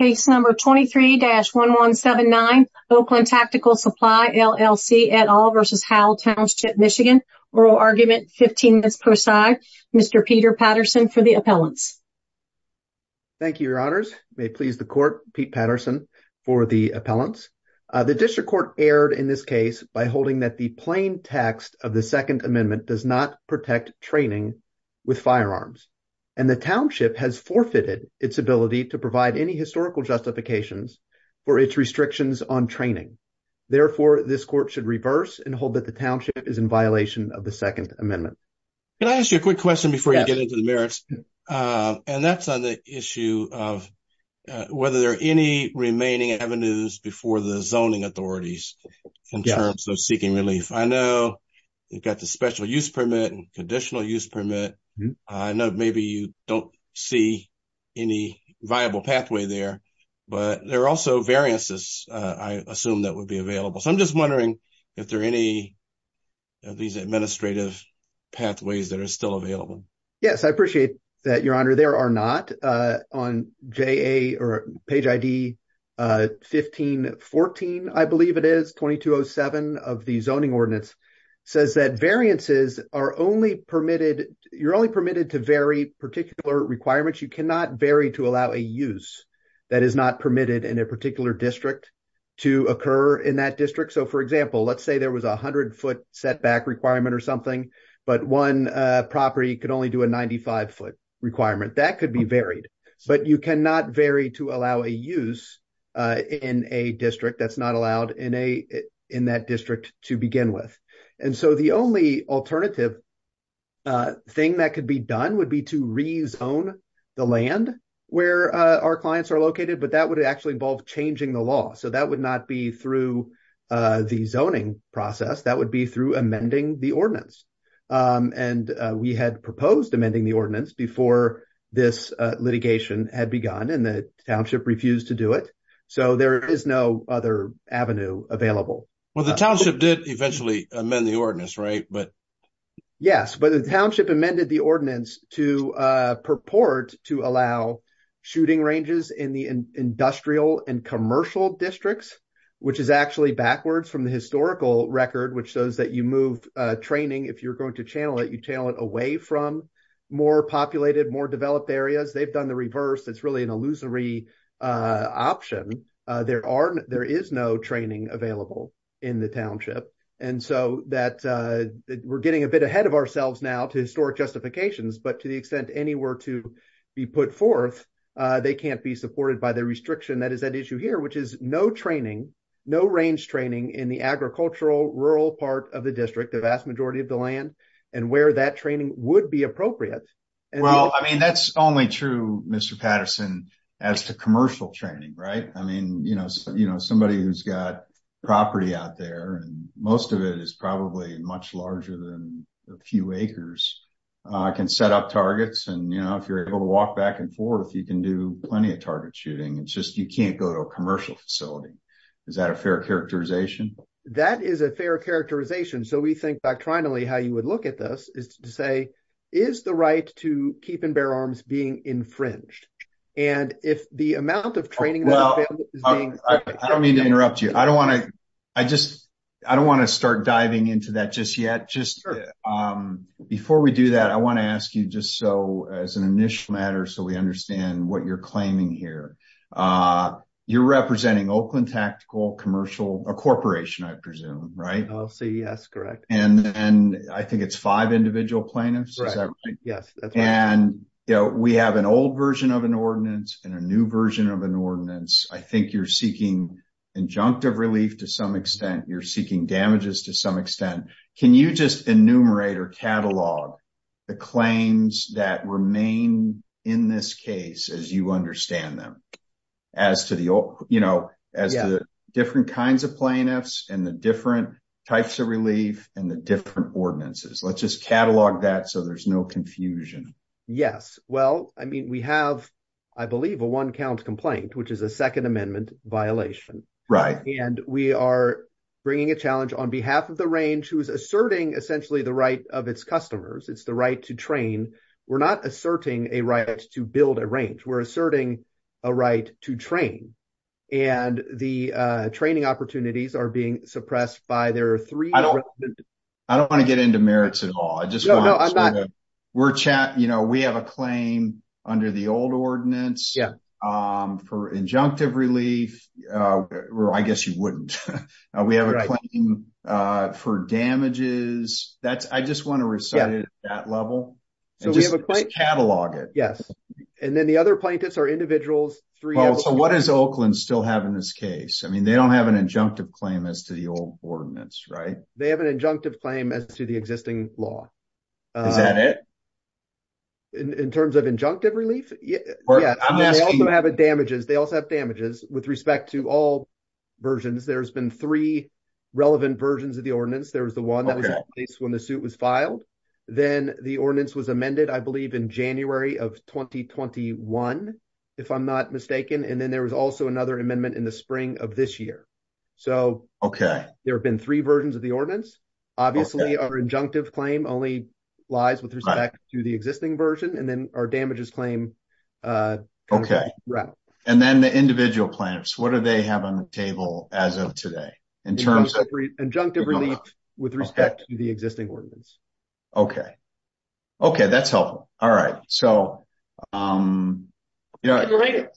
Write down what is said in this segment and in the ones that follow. Case number 23-1179, Oakland Tactical Supply LLC et al versus Howell Township, Michigan. Oral argument, 15 minutes per side. Mr. Peter Patterson for the appellants. Thank you, your honors. May it please the court, Pete Patterson for the appellants. The district court erred in this case by holding that the plain text of the second amendment does not protect training with firearms and the township has forfeited its ability to provide any historical justifications for its restrictions on training. Therefore, this court should reverse and hold that the township is in violation of the second amendment. Can I ask you a quick question before you get into the merits? And that's on the issue of whether there are any remaining avenues before the zoning authorities in terms of seeking relief. I know you've got special use permit and conditional use permit. I know maybe you don't see any viable pathway there, but there are also variances I assume that would be available. So I'm just wondering if there are any of these administrative pathways that are still available. Yes, I appreciate that, your honor. There are not. On page ID 15-14, I believe it is, 2207 of the zoning ordinance says that variances are only permitted, you're only permitted to vary particular requirements. You cannot vary to allow a use that is not permitted in a particular district to occur in that district. So for example, let's say there was a 100 foot setback requirement or something, but one property could only do a 95 foot requirement. That could be varied, but you cannot vary to allow a use in a district that's not allowed in that district to begin with. And so the only alternative thing that could be done would be to rezone the land where our clients are located, but that would actually involve changing the law. So that would not be through the zoning process, that would be through amending the ordinance. And we had proposed amending the ordinance before this litigation had begun and the township refused to do it. So there is no other avenue available. Well, the township did eventually amend the ordinance, right? Yes, but the township amended the ordinance to purport to allow shooting ranges in the industrial and commercial districts, which is actually backwards from the historical record, which shows that you move training, if you're going to channel it, you channel it away from more populated, more developed areas. They've done the reverse. It's really an illusory option. There is no training available in the township. And so we're getting a bit ahead of ourselves now to historic justifications, but to the extent anywhere to be put forth, they can't be supported by the restriction that is at issue here, which is no training, no range training in the agricultural rural part of the district, the vast majority of land and where that training would be appropriate. Well, I mean, that's only true, Mr. Patterson, as to commercial training, right? I mean, you know, somebody who's got property out there, and most of it is probably much larger than a few acres, can set up targets. And, you know, if you're able to walk back and forth, you can do plenty of target shooting. It's just, you can't go to a commercial facility. Is that a fair characterization? That is a fair characterization. So we think factrionally, how you would look at this, is to say, is the right to keep and bear arms being infringed? And if the amount of training Well, I don't mean to interrupt you. I don't want to, I just, I don't want to start diving into that just yet. Just before we do that, I want to ask you just so as an initial matter, so we understand what you're claiming here. You're representing Oakland Tactical Commercial, a corporation, I presume, right? I'll say yes, correct. And then I think it's five individual plaintiffs, right? Yes. And, you know, we have an old version of an ordinance and a new version of an ordinance. I think you're seeking injunctive relief to some extent, you're seeking damages to some extent. Can you just enumerate or catalog the claims that remain in this case, as you them? As to the, you know, as the different kinds of plaintiffs and the different types of relief and the different ordinances? Let's just catalog that so there's no confusion. Yes. Well, I mean, we have, I believe, a one count complaint, which is a Second Amendment violation. Right. And we are bringing a challenge on behalf of the range who is asserting essentially the right of its customers. It's the right to train. We're not asserting a right to build a right to train. And the training opportunities are being suppressed by their three. I don't want to get into merits at all. I just know we're chatting. You know, we have a claim under the old ordinance for injunctive relief. Well, I guess you wouldn't. We have a claim for damages. That's I just want to recite it at that level and just catalog it. Yes. And then the other plaintiffs are individuals. So what does Oakland still have in this case? I mean, they don't have an injunctive claim as to the old ordinance, right? They have an injunctive claim as to the existing law. Is that it? In terms of injunctive relief? Yeah. They also have damages. They also have damages with respect to all versions. There's been three relevant versions of the ordinance. There was the one when the suit was filed. Then the ordinance was amended, I believe, in January of 2021, if I'm not mistaken. And then there was also another amendment in the spring of this year. So, OK, there have been three versions of the ordinance. Obviously, our injunctive claim only lies with respect to the existing version. And then our damages claim. OK, right. And then the individual plans, what do they have on the table as of today in terms of injunctive relief with respect to the existing ordinance? OK. OK, that's helpful. All right. So, you know, go ahead.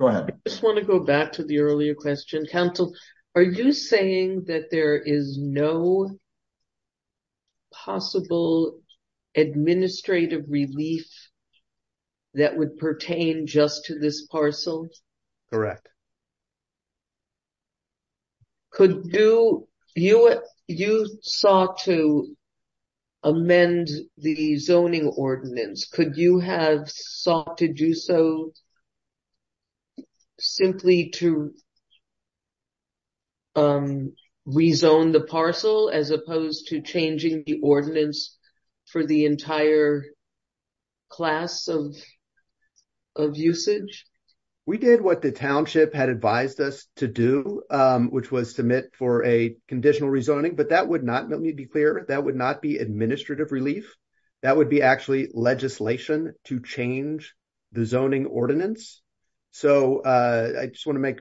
I just want to go back to the earlier question. Council, are you saying that there is no possible administrative relief that would pertain just to this parcel? Correct. Could you, you sought to amend the zoning ordinance. Could you have sought to do so simply to rezone the parcel as opposed to changing the ordinance for the entire class of usage? We did what the township had advised us to do, which was submit for a conditional rezoning. But that would not be clear. That would not be administrative relief. That would be actually legislation to change the zoning ordinance. So I just want to make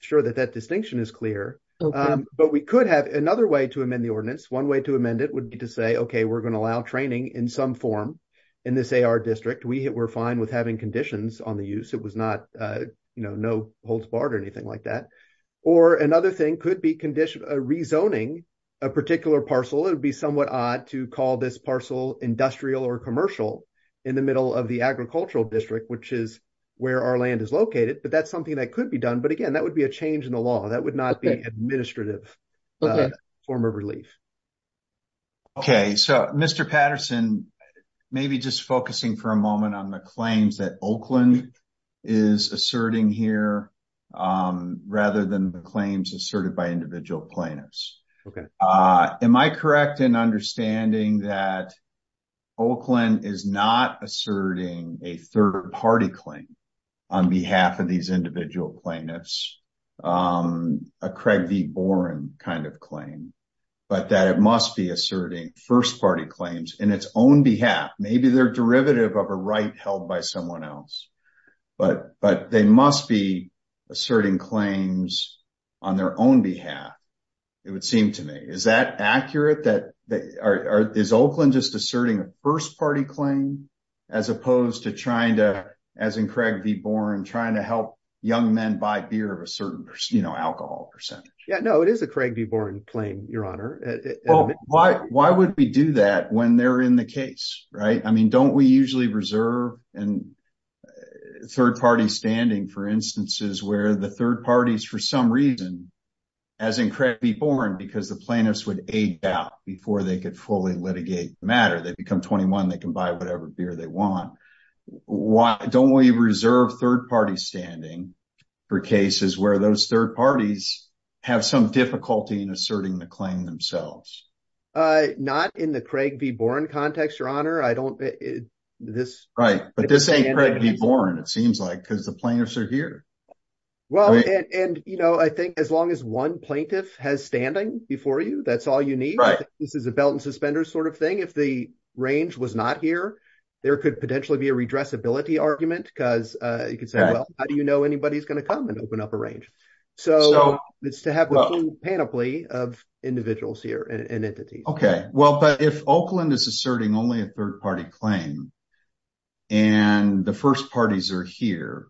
sure that that distinction is clear. But we could have another way to amend the ordinance. One way to amend it would be to say, OK, we're going to allow training in some form in this AR district. We were fine with having conditions on the use. It was not, you know, no holds barred or anything like that. Or another thing could be rezoning a particular parcel. It would be somewhat odd to call this parcel industrial or commercial in the middle of the agricultural district, which is where our land is located. But that's something that could be done. But again, that would be a change in the law that would not be administrative form of relief. OK, so Mr. Patterson, maybe just focusing for a moment on the claims that Oakland is asserting here rather than the claims asserted by individual plaintiffs. OK, am I correct in understanding that Oakland is not asserting a third party claim on behalf of these individual plaintiffs, a Craig V. Boren kind of claim, but that it must be asserting first party claims in its own behalf? Maybe they're derivative of a right held by someone else, but they must be asserting claims on their own behalf. It would seem to me. Is that accurate, that is Oakland just asserting a first party claim as opposed to trying to, as in Craig V. Boren, trying to help young men buy beer of a certain, you know, alcohol percentage? Yeah, no, it is a Craig V. Boren claim, your honor. Why would we do that when they're in the case? Right. I mean, don't we usually reserve and third party standing for instances where the third party is for some reason, as in Craig V. Boren, because the plaintiffs would aid out before they could fully litigate the matter. They become 21. They can buy whatever beer they want. Why don't we reserve third party standing for cases where those third parties have some difficulty in asserting the claim themselves? Not in the Craig V. Boren context, your honor. I don't, this. Right. But this ain't Craig V. Boren, it seems like, because the plaintiffs are here. Well, and, you know, I think as long as one plaintiff has standing before you, that's all you need. This is a belt and suspenders sort of thing. If the range was not here, there could potentially be a redressability argument because you could say, well, how do you know anybody's going to come and open up a range? So it's to have a panoply of individuals here and entities. Okay. Well, but if Oakland is asserting only a third party claim and the first parties are here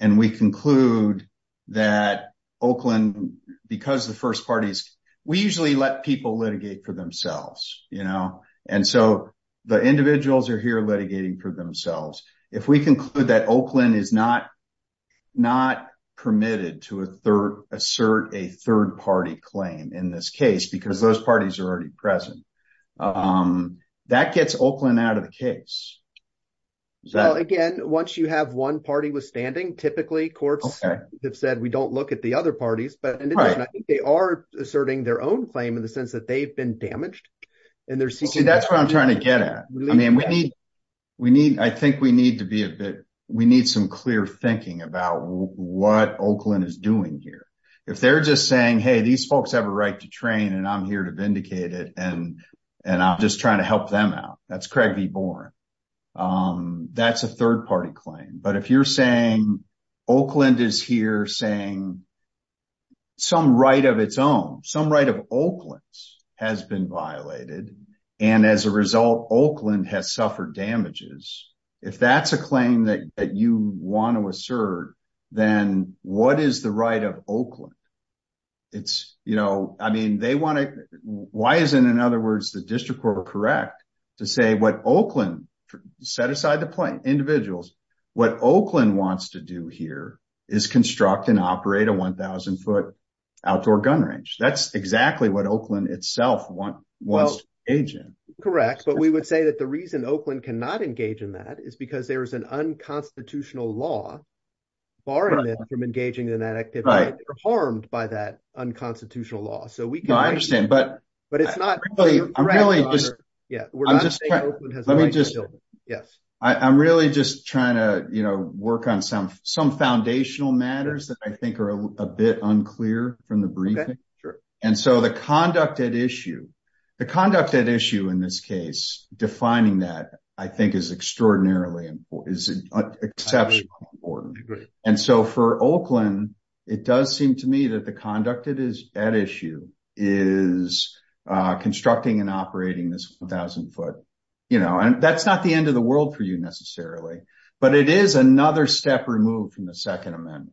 and we conclude that Oakland, because the first parties, we usually let people litigate for themselves, you know, and so the individuals are here litigating for themselves. If we conclude that Oakland is not permitted to assert a third party claim in this case, because those parties are already present, that gets Oakland out of the case. Well, again, once you have one party standing, typically courts have said, we don't look at the other parties, but I think they are asserting their own claim in the sense that they've been damaged. See, that's what I'm trying to get at. I mean, I think we need some clear thinking about what Oakland is doing here. If they're just saying, hey, these folks have a right to train and I'm here to vindicate it and I'm just trying to help them out. That's Craig B. Boren. That's a third party claim. But if you're saying Oakland is here saying some right of its own, some right of Oakland's has been violated, and as a result, Oakland has suffered damages. If that's a claim that you want to assert, then what is the right of Oakland? It's, you know, I mean, they want to, why isn't, in other words, the district court correct to say what Oakland set aside the individuals? What Oakland wants to do here is construct and operate a 1,000-foot outdoor gun range. That's exactly what Oakland itself wants to engage in. Correct. But we would say that the reason Oakland cannot engage in that is because there is an unconstitutional law barring them from engaging in that activity. They're harmed by that unconstitutional law. I understand, but I'm really just trying to, you know, work on some foundational matters that I think are a bit unclear from the briefing. And so the conduct at issue, the conduct at issue in this case, defining that, I think is extraordinarily important, is exceptionally important. And so for Oakland, it does seem to me that the conduct at issue is constructing and operating this 1,000 foot, you know, and that's not the end of the world for you necessarily, but it is another step removed from the Second Amendment,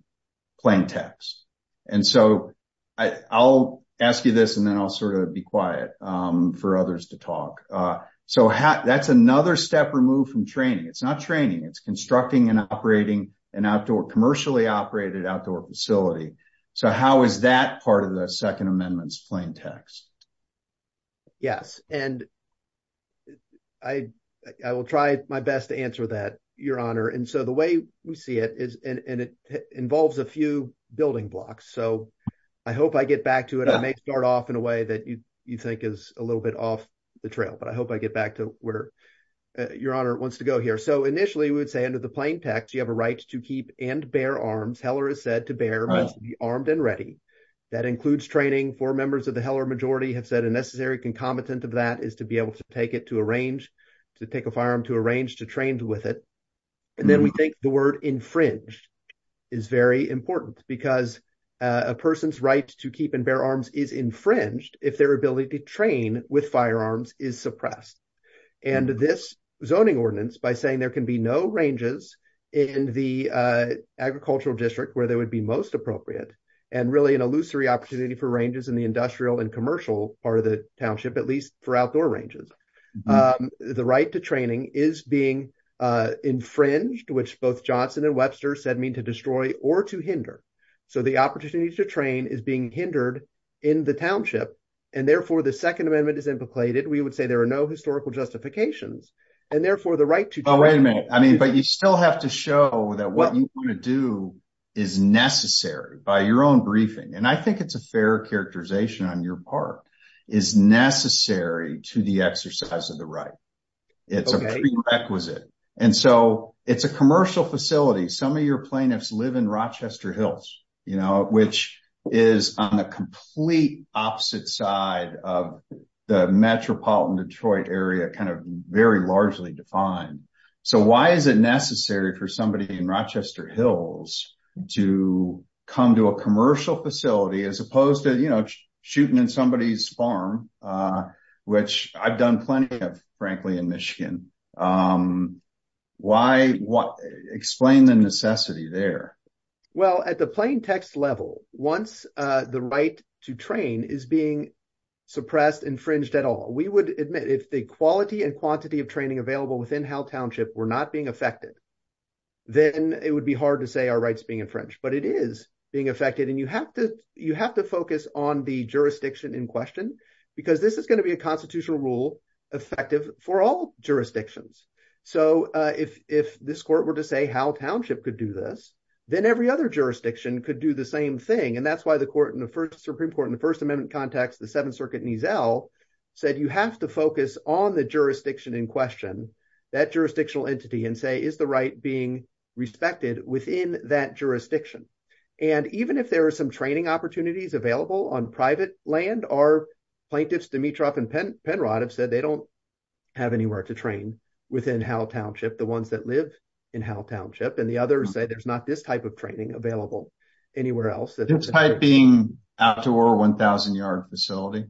plain text. And so I'll ask you this, and then I'll sort of be quiet for others to talk. So that's another step removed from training. It's not training, it's constructing and operating an outdoor, commercially operated outdoor facility. So how is that part of the Second Amendment's plain text? Yes, and I will try my best to answer that, Your Honor. And so the way we see it is, and it involves a few building blocks, so I hope I get back to it. I may start off in a way that you think is a little bit off the trail, but I hope I get back to where Your Honor wants to go here. So initially, we would say under the plain text, you have a right to keep and bear arms. Heller has said to bear means to be armed and ready. That includes training. Four members of the Heller majority have said a necessary concomitant of that is to be able to take it to a range, to take a firearm to a range, to trained with it. And then we think the word infringed is very important because a person's to keep and bear arms is infringed if their ability to train with firearms is suppressed. And this zoning ordinance, by saying there can be no ranges in the agricultural district where they would be most appropriate, and really an illusory opportunity for ranges in the industrial and commercial part of the township, at least for outdoor ranges. The right to training is being infringed, which both Johnson and Webster said mean to destroy or to hinder. So the opportunity to train is being hindered in the township. And therefore, the Second Amendment is implicated. We would say there are no historical justifications. And therefore, the right to train... Oh, wait a minute. But you still have to show that what you want to do is necessary by your own briefing. And I think it's a fair characterization on your part, is necessary to the exercise of the right. It's a prerequisite. And so it's a commercial facility. Some of your plaintiffs live in Rochester Hills, which is on the complete opposite side of the metropolitan Detroit area, very largely defined. So why is it necessary for somebody in Rochester Hills to come to a commercial facility as opposed to shooting in somebody's farm, which I've done plenty of, frankly, in Michigan? Explain the necessity there. Well, at the plain text level, once the right to train is being suppressed, infringed at all, we would admit if the quality and quantity of training available within Howell Township were not being affected, then it would be hard to say our rights being infringed. But it is being affected. And you have to focus on the jurisdiction in question, because this is going to be a constitutional rule, effective for all jurisdictions. So if this court were to say Howell Township could do this, then every other jurisdiction could do the same thing. And that's why the Supreme Court in the First Amendment context, the Seventh Circuit Nizel, said you have to focus on the jurisdiction in question, that jurisdictional entity, and say, is the right being respected within that jurisdiction? And even if there are some training opportunities available on private land, our plaintiffs, Dimitrov and Penrod, have said they don't have anywhere to train within Howell Township, the ones that live in Howell Township. And the others say there's not this type of training available anywhere else. This type being outdoor 1,000-yard facility?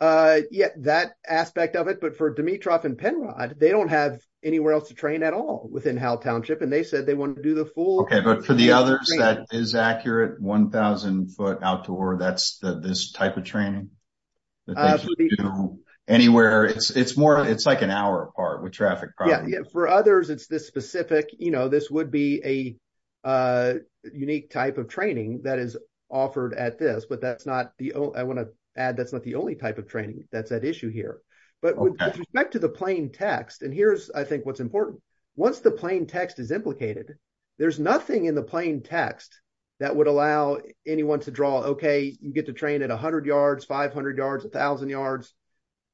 Yeah, that aspect of it. But for Dimitrov and Penrod, they don't have anywhere else to train at all within Howell Township. And they said they want to do the full. Okay, but for the others, that is accurate, 1,000-foot outdoor, that's this type of training? Anywhere? It's more, it's like an hour apart with traffic problems. For others, it's this specific, you know, this would be a unique type of training that is offered at this. But that's not the only, I want to add, that's not the only type of training that's at issue here. But with respect to the plain text, and here's, I think, what's important. Once the plain text is implicated, there's nothing in the plain text that would allow anyone to draw, okay, you get to train at 100 yards, 500 yards, 1,000 yards,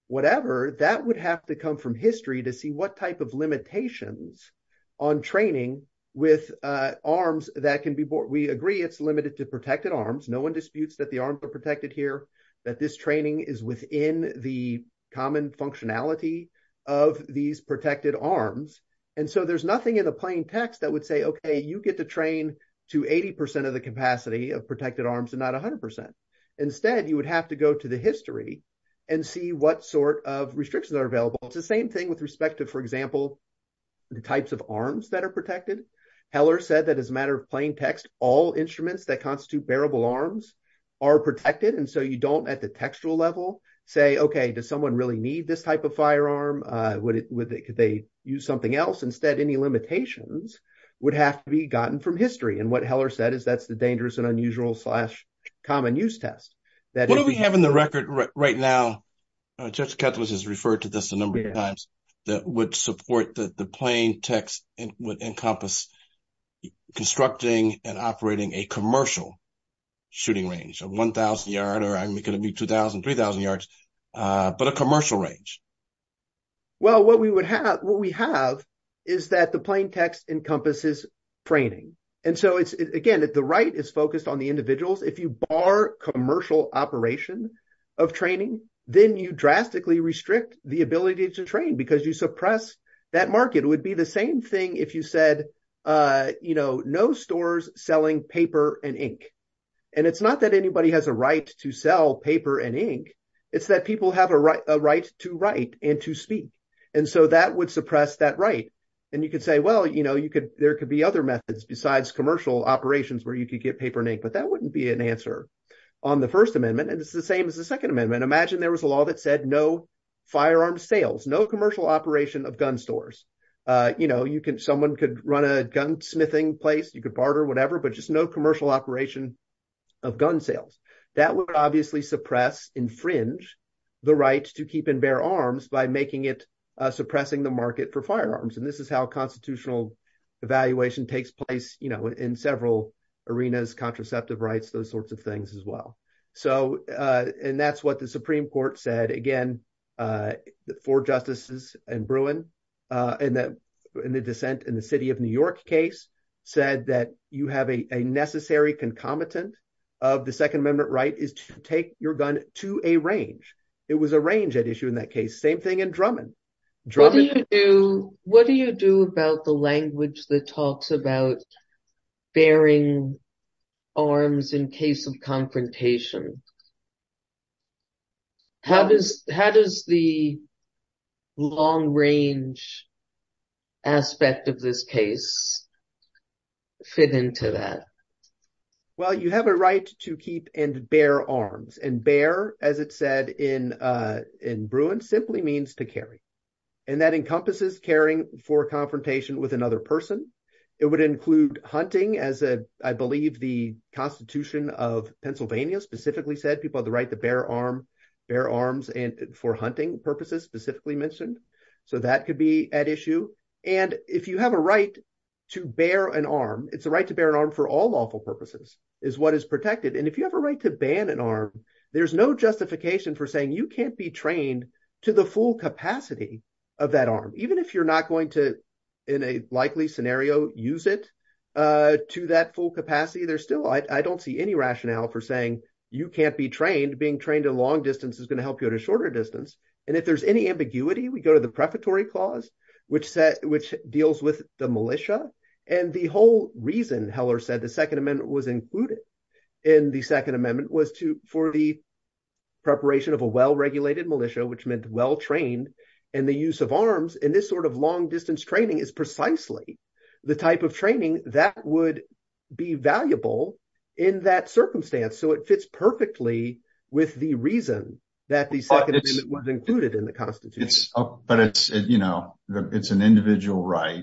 whatever. That would have to come from history to see what type of limitations on training with arms that can be, we agree it's limited to protected arms. No one disputes that the arms are protected here, that this training is within the common functionality of these protected arms. And so there's nothing in the plain text that would say, okay, you get to train to 80% of the capacity of protected arms and not 100%. Instead, you would have to go to the history and see what sort of restrictions are available. It's the same thing with respect to, for example, the types of arms that are protected. Heller said that as a matter of plain text, all instruments that constitute bearable arms are protected. And so you don't at the textual level say, okay, does someone really need this type of firearm? Could they use something else? Instead, any limitations would have to be gotten from history. And what Heller said is that's the dangerous and unusual slash common use test. What do we have in the record right now, Judge Ketles has referred to this a number of times, that would support that the plain text would encompass constructing and operating a commercial shooting range of 1,000 yard, 2,000, 3,000 yards, but a commercial range. Well, what we have is that the plain text encompasses training. And so again, the right is focused on the individuals. If you bar commercial operation of training, then you drastically restrict the ability to train because you suppress that market. It would be the same thing if you said, no stores selling paper and ink. And it's not that anybody has a right to sell paper and ink, it's that people have a right to write and to speak. And so that would suppress that right. And you could say, well, there could be other methods besides commercial operations where you could get paper and ink, but that wouldn't be an answer on the First Amendment. And it's the same as the Second Amendment. Imagine there was a law that said no firearm sales, no commercial operation of gun stores. Someone could run a gunsmithing place, you could barter, whatever, but just no commercial operation of gun sales. That would obviously suppress, infringe the right to keep and bear arms by making it suppressing the market for firearms. And this is how constitutional evaluation takes place in several arenas, contraceptive rights, those sorts of things as well. And that's what the Supreme Court said, again, four justices in Bruin, in the dissent in the New York case, said that you have a necessary concomitant of the Second Amendment right is to take your gun to a range. It was a range at issue in that case. Same thing in Drummond. What do you do about the language that talks about bearing arms in case of confrontation? How does the long-range aspect of this case fit into that? Well, you have a right to keep and bear arms. And bear, as it said in Bruin, simply means to carry. And that encompasses caring for confrontation with another person. It would include hunting as a, I believe, the Constitution of Pennsylvania specifically said. People have the right to bear arms for hunting purposes, specifically mentioned. So that could be at issue. And if you have a right to bear an arm, it's a right to bear an arm for all lawful purposes, is what is protected. And if you have a right to ban an arm, there's no justification for saying you can't be trained to the full capacity of that arm, even if you're not going to, in a likely scenario, use it to that full capacity. I don't see any rationale for saying you can't be trained. Being trained to long distance is going to help you at a shorter distance. And if there's any ambiguity, we go to the prefatory clause, which deals with the militia. And the whole reason, Heller said, the Second Amendment was included in the Second Amendment was for the preparation of a well-regulated militia, which meant well-trained, and the use of arms in this sort of long distance training is precisely the type of training that would be valuable in that circumstance. So it fits perfectly with the reason that the Second Amendment was included in the Constitution. But it's an individual right.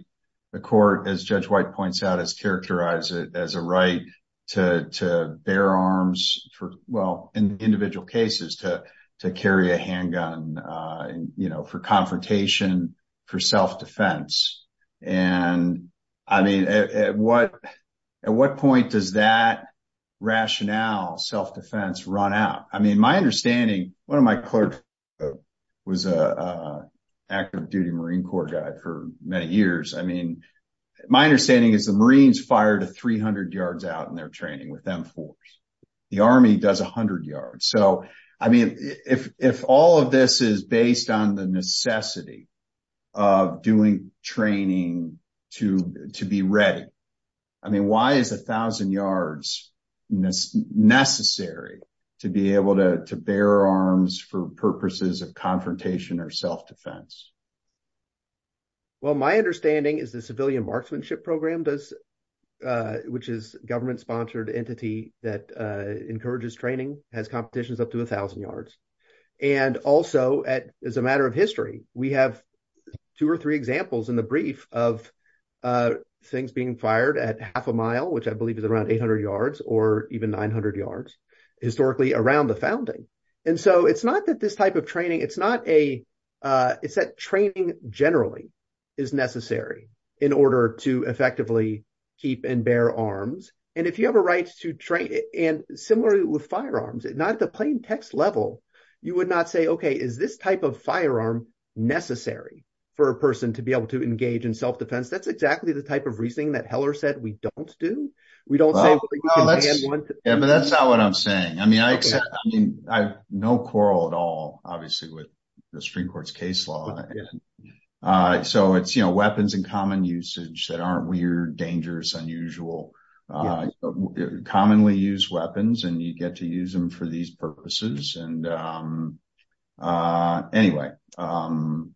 The court, as Judge White points out, has characterized it as a right to bear arms for, well, in individual cases, to carry a handgun for confrontation, for self-defense. And I mean, at what point does that rationale, self-defense, run out? I mean, my understanding, one of my clerks was an active duty Marine Corps guy for many years. I mean, my understanding is the Marines fire to 300 yards out in their training with M4s. The Army does 100 yards. So, I mean, if all of this is based on the necessity of doing training to be ready, I mean, why is 1,000 yards necessary to be able to bear arms for purposes of confrontation or self-defense? Well, my understanding is the marksmanship program does, which is government-sponsored entity that encourages training, has competitions up to 1,000 yards. And also, as a matter of history, we have two or three examples in the brief of things being fired at half a mile, which I believe is around 800 yards or even 900 yards, historically around the founding. And so it's not that this type of effectively keep and bear arms. And if you have a right to train, and similarly with firearms, not at the plain text level, you would not say, okay, is this type of firearm necessary for a person to be able to engage in self-defense? That's exactly the type of reasoning that Heller said we don't do. We don't say- Yeah, but that's not what I'm saying. I mean, I have no quarrel at all, obviously, with the Supreme Court's case law. And so it's weapons in common usage that aren't weird, dangerous, unusual, commonly used weapons, and you get to use them for these purposes. And anyway-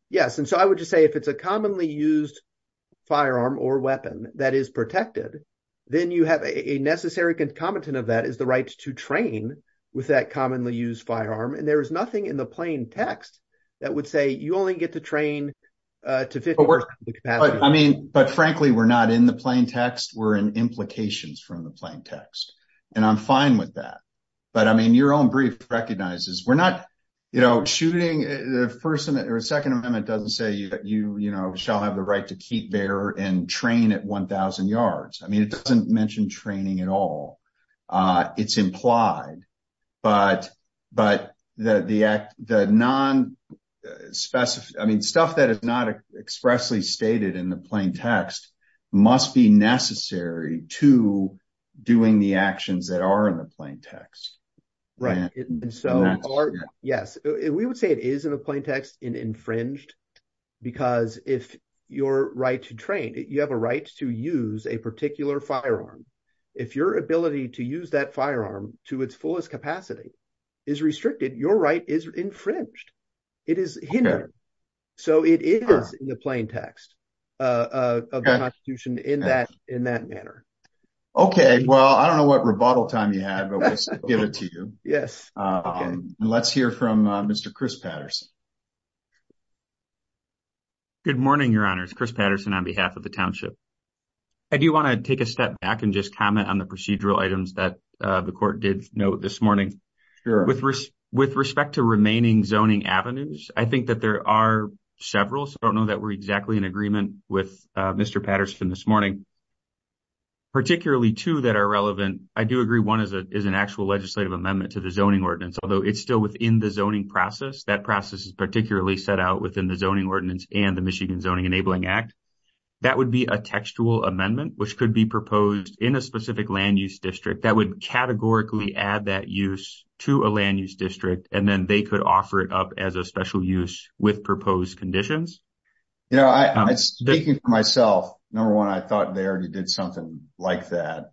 Yes. And so I would just say, if it's a commonly used firearm or weapon that is protected, then you have a necessary concomitant of that is the right to train with that commonly used firearm. And there is nothing in the plain text that would say you only get to train to 50 yards. I mean, but frankly, we're not in the plain text, we're in implications from the plain text. And I'm fine with that. But I mean, your own brief recognizes, we're not shooting, the Second Amendment doesn't say that you shall have the right to keep, bear, and train at 1,000 yards. I mean, it doesn't mention training at all. It's implied. But the non-specified, I mean, stuff that is not expressly stated in the plain text must be necessary to doing the actions that are in the plain text. Right. And so, yes, we would say it is in the plain text infringed, because if your right to train, you have a right to use a particular firearm. If your ability to use that firearm to its fullest capacity is restricted, your right is infringed. It is hindered. So, it is in the plain text of the Constitution in that manner. Okay. Well, I don't know what rebuttal time you have, but we'll give it to you. Yes. Let's hear from Mr. Chris Patterson. Good morning, Your Honors. Chris Patterson on behalf of the Township. I do want to take a step back and just comment on the procedural items that the Court did note this morning. With respect to remaining zoning avenues, I think that there are several. So, I don't know that we're exactly in agreement with Mr. Patterson this morning. Particularly two that are relevant, I do agree, one is an actual legislative amendment to the zoning ordinance, although it's still within the zoning process. That process is particularly set out within the zoning ordinance and the Michigan Zoning Enabling Act. That would be a textual amendment, which could be proposed in a specific land use district that would categorically add that use to a land use district, and then they could offer it up as a special use with proposed conditions. You know, speaking for myself, number one, I thought they already did something like that.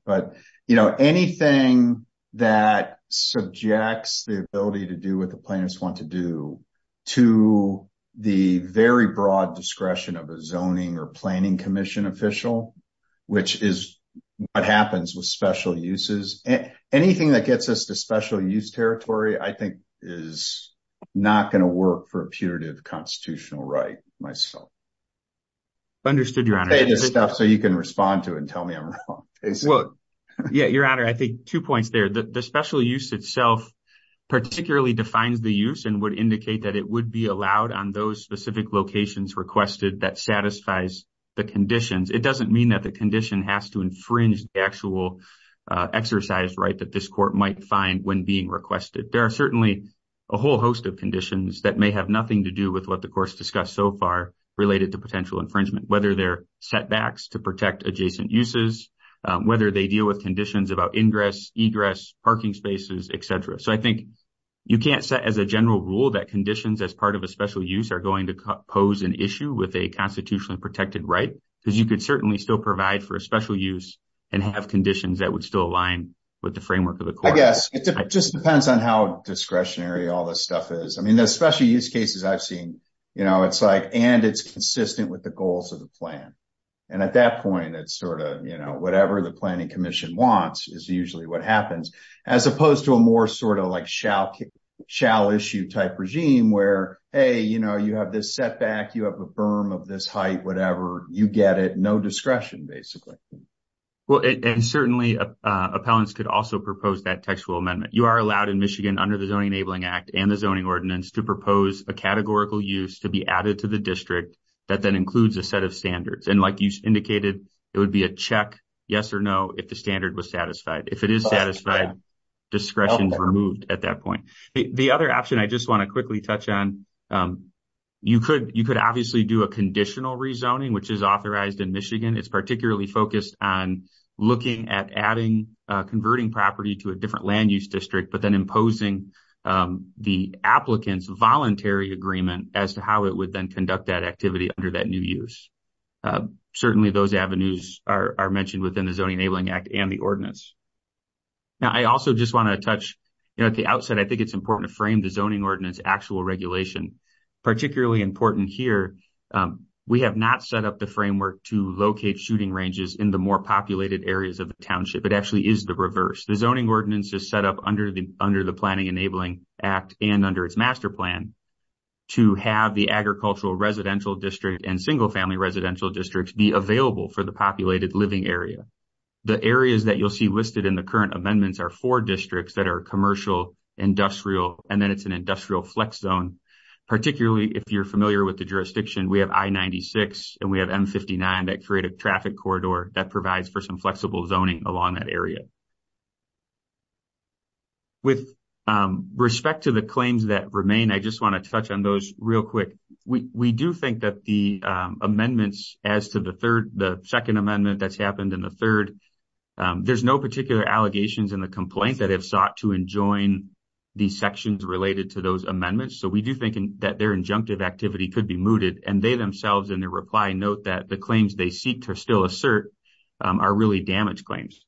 Anything that subjects the ability to do what the plaintiffs want to do to the very broad discretion of a zoning or planning commission official, which is what happens with special uses, anything that gets us to special use territory, I think is not going to work for a putative constitutional right myself. Understood, Your Honor. You can respond to it and tell me I'm wrong. Your Honor, I think two points there. The special use itself particularly defines the use and would indicate that it would be allowed on those specific locations requested that satisfies the conditions. It doesn't mean that the condition has to infringe the actual exercise right that this court might find when being requested. There are certainly a whole host of conditions that may have nothing to do with what the setbacks to protect adjacent uses, whether they deal with conditions about ingress, egress, parking spaces, etc. So, I think you can't set as a general rule that conditions as part of a special use are going to pose an issue with a constitutionally protected right because you could certainly still provide for a special use and have conditions that would still align with the framework of the court. I guess it just depends on how discretionary all this stuff is. I mean, the special use cases I've seen, you know, it's like and it's consistent with the goals of the plan. And at that point, it's sort of, you know, whatever the planning commission wants is usually what happens as opposed to a more sort of like shall issue type regime where, hey, you know, you have this setback, you have a firm of this height, whatever, you get it, no discretion basically. Well, and certainly appellants could also propose that textual amendment. You are allowed in Michigan under the Zoning Enabling Act and the Zoning Ordinance to propose a categorical use to be added to the district that then includes a set of standards. And like you indicated, it would be a check, yes or no, if the standard was satisfied. If it is satisfied, discretion is removed at that point. The other option I just want to quickly touch on, you could obviously do a conditional rezoning, which is authorized in Michigan. It's particularly focused on looking at adding, converting property to a different land use district, but then imposing the applicant's voluntary agreement as to how it would then conduct that activity under that new use. Certainly, those avenues are mentioned within the Zoning Enabling Act and the ordinance. Now, I also just want to touch, you know, at the outset, I think it's important to frame the Zoning Ordinance actual regulation. Particularly important here, we have not set up the framework to locate shooting ranges in the more populated areas of the township. It actually is the reverse. The Zoning Ordinance is set up under the Planning Enabling Act and under its master plan to have the agricultural residential district and single-family residential districts be available for the populated living area. The areas that you'll see listed in the current amendments are four districts that are commercial, industrial, and then it's an industrial flex zone. Particularly, if you're familiar with the jurisdiction, we have I-96 and we have M-59 that create a traffic corridor that provides for flexible zoning along that area. With respect to the claims that remain, I just want to touch on those real quick. We do think that the amendments as to the second amendment that's happened and the third, there's no particular allegations in the complaint that have sought to enjoin these sections related to those amendments. So, we do think that their injunctive activity could be mooted and they themselves, in their reply, note that claims they seek to still assert are really damage claims.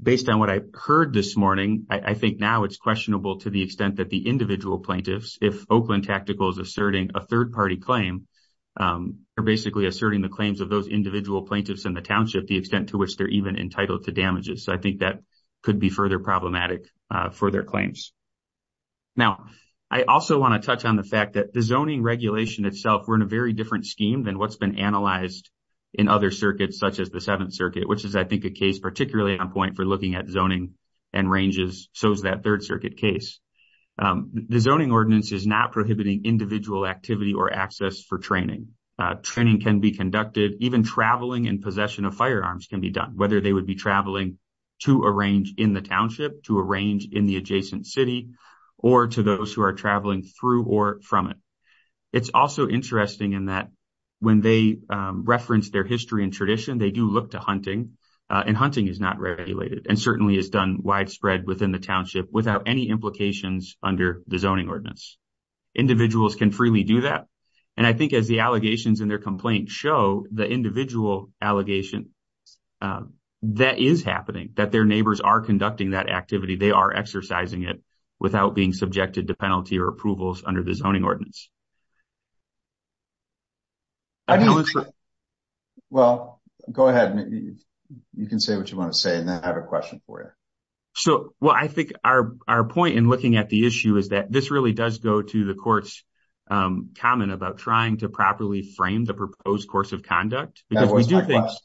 Based on what I heard this morning, I think now it's questionable to the extent that the individual plaintiffs, if Oakland Tactical is asserting a third-party claim, are basically asserting the claims of those individual plaintiffs in the township, the extent to which they're even entitled to damages. I think that could be further problematic for their claims. Now, I also want to touch on the fact that the zoning regulation itself, we're in a very different scheme than what's been analyzed in other circuits such as the Seventh Circuit, which is, I think, a case particularly on point for looking at zoning and ranges, so is that Third Circuit case. The zoning ordinance is not prohibiting individual activity or access for training. Training can be conducted, even traveling in possession of firearms can be done, whether they would be traveling to a range in the township, to a range in the adjacent city, or to those who are traveling through or from it. It's also interesting in that when they reference their history and tradition, they do look to hunting, and hunting is not regulated and certainly is done widespread within the township without any implications under the zoning ordinance. Individuals can freely do that, and I think as the allegations in their complaint show, the individual allegation that is happening, that their neighbors are conducting that activity, they are exercising it without being subjected to penalty or approvals under the zoning ordinance. Well, go ahead. You can say what you want to say and then I have a question for you. So, well, I think our point in looking at the issue is that this really does go to the court's comment about trying to properly frame the proposed course of conduct. That was my question.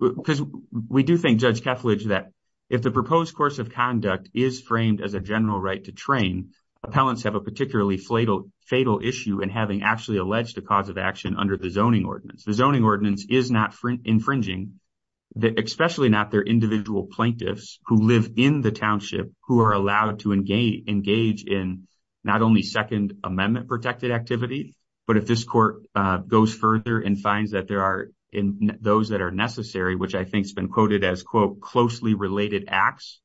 Because we do think, Judge Keflage, that if the proposed course of conduct is framed as a general right to train, appellants have a particularly fatal issue in having actually alleged a cause of action under the zoning ordinance. The zoning ordinance is not infringing, especially not their individual plaintiffs who live in the township who are allowed to engage in not only Second Amendment protected activity, but if this court goes further and finds that there are those that are necessary, which I think has been quoted as, quote, closely related acts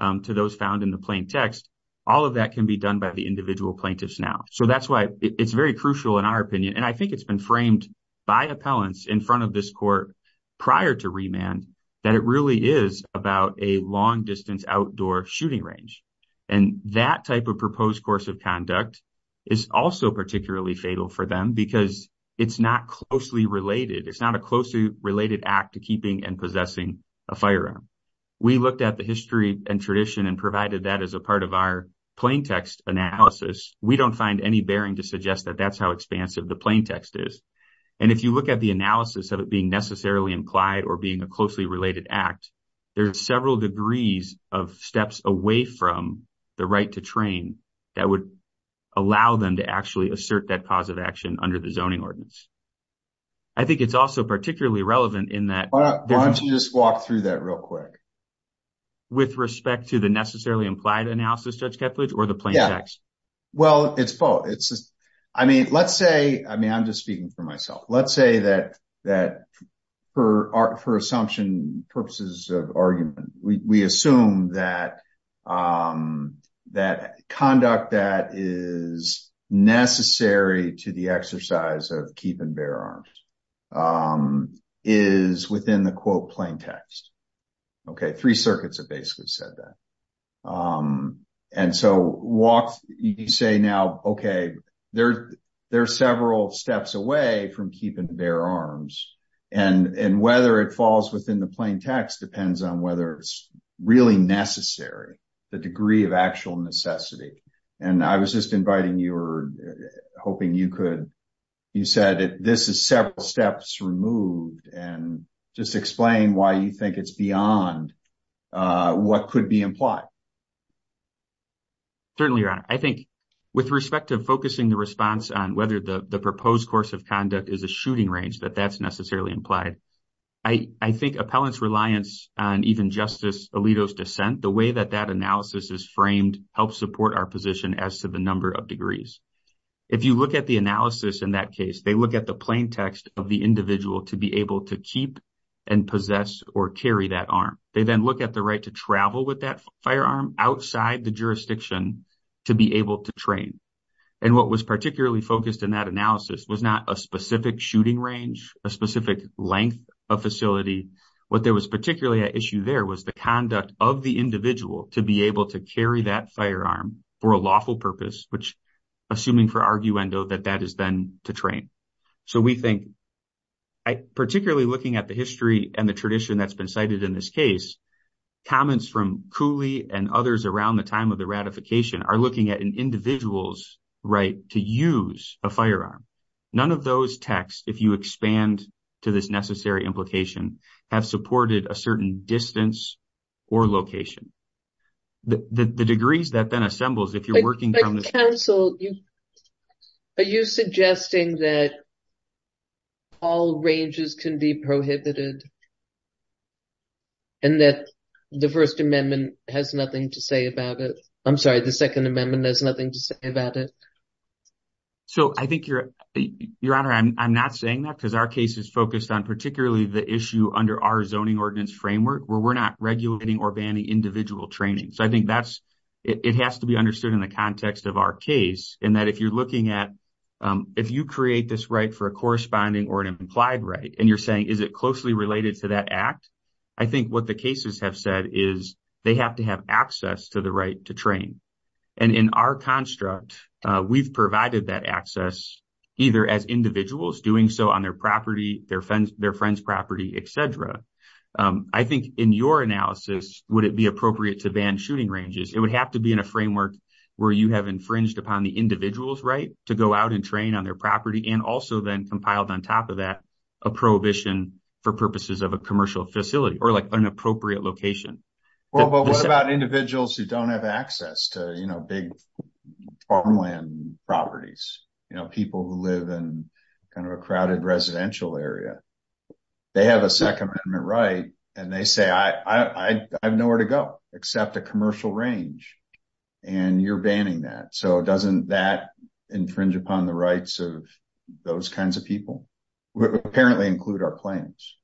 to those found in the plain text, all of that can be done by the individual plaintiffs now. So that's why it's very crucial in our opinion, and I think it's been framed by appellants in front of this court prior to remand, that it really is about a long distance outdoor shooting range. And that type of proposed course of conduct is also particularly fatal for them because it's not closely related. It's not a closely related act to keeping and possessing a firearm. We looked at the history and tradition and provided that as a part of our plain text analysis. We don't find any bearing to suggest that that's how expansive the plain text is. And if you look at the analysis of it being necessarily implied or being a closely related act, there are several degrees of steps away from the right to train that would allow them to actually assert that cause of action under the zoning ordinance. I think it's also particularly relevant in that. Why don't you just walk through that real quick? With respect to the necessarily implied analysis, Judge Kepledge, or the plain text? Yeah. Well, it's both. I mean, let's say, I mean, I'm just speaking for myself. Let's say that for assumption purposes of argument, we assume that conduct that is necessary to the exercise of keep and bear arms is within the quote plain text. Okay. Three circuits have basically said that. And so, you say now, okay, there are several steps away from keep and bear arms. And whether it falls within the plain text depends on whether it's really necessary, the degree of actual necessity. And I was just inviting you or hoping you could, you said, this is several steps removed. And just explain why you think it's beyond what could be implied. Certainly, Your Honor. I think with respect to focusing the response on whether the proposed course of conduct is a shooting range, that that's necessarily implied. I think appellant's reliance on even Justice Alito's dissent, the way that that analysis is framed helps support our position as to the number of degrees. If you look at the analysis in that case, they look at the plain text of the individual to be able to keep and possess or carry that arm. They then look at the right to travel with that firearm outside the jurisdiction to be able to train. And what was particularly focused in that analysis was not a specific shooting range, a specific length of facility. What there was particularly an issue there was the conduct of the individual to be able to carry that firearm for a lawful purpose, which, assuming for arguendo, that that is then to train. So, we think, particularly looking at the history and the tradition that's been cited in this case, comments from Cooley and others around the time of the ratification are looking at an individual's right to use a firearm. None of those texts, if you expand to this necessary implication, have supported a certain distance or location. The degrees that then assembles, if you're working from the- Counsel, are you suggesting that all ranges can be prohibited and that the First Amendment has nothing to say about it? I'm sorry, the Second Amendment has nothing to say about it? So, I think, Your Honor, I'm not saying that because our case is focused on particularly the issue under our zoning ordinance framework where we're not regulating or banning individual training. So, I think that's- it has to be understood in the context of our case and that if you're looking at- if you create this right for a corresponding or an individual to have access to the right to train, and in our construct, we've provided that access either as individuals doing so on their property, their friend's property, etc. I think, in your analysis, would it be appropriate to ban shooting ranges? It would have to be in a framework where you have infringed upon the individual's right to go out and train on their for purposes of a commercial facility or like an appropriate location. Well, but what about individuals who don't have access to, you know, big farmland properties, you know, people who live in kind of a crowded residential area? They have a Second Amendment right and they say, I have nowhere to go except a commercial range, and you're banning that. So, doesn't that infringe upon the rights of those kinds of people? Apparently include our plans.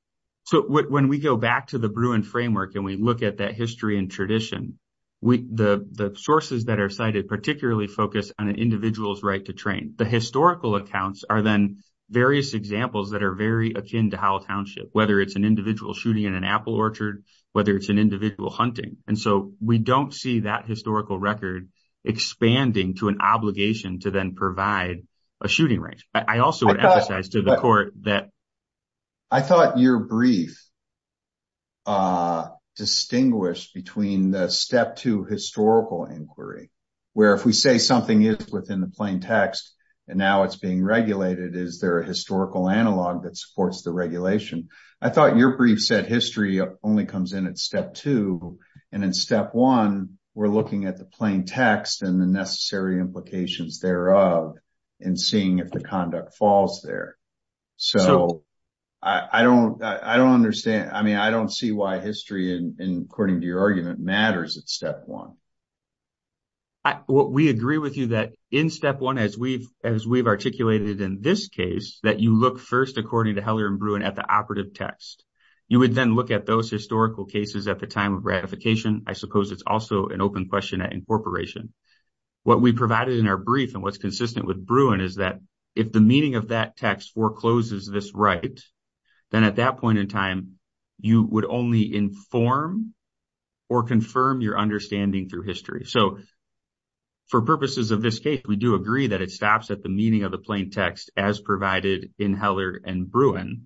So, when we go back to the Bruin framework and we look at that history and tradition, the sources that are cited particularly focus on an individual's right to train. The historical accounts are then various examples that are very akin to Howell Township, whether it's an individual shooting in an apple orchard, whether it's an individual hunting, and so we don't see that historical record expanding to an obligation to then provide a shooting range. But I also would emphasize to the court that... I thought your brief distinguished between the step two historical inquiry, where if we say something is within the plain text and now it's being regulated, is there a historical analog that supports the regulation? I thought your brief said history only comes in at step two, and in step one, we're looking at the plain text and the necessary implications thereof. And seeing if the conduct falls there. So, I don't understand. I mean, I don't see why history, according to your argument, matters at step one. We agree with you that in step one, as we've articulated in this case, that you look first, according to Heller and Bruin, at the operative text. You would then look at those historical cases at the time of ratification. I suppose it's also an open question at incorporation. What we provided in our brief, and what's consistent with Bruin, is that if the meaning of that text forecloses this right, then at that point in time, you would only inform or confirm your understanding through history. So, for purposes of this case, we do agree that it stops at the meaning of the plain text as provided in Heller and Bruin.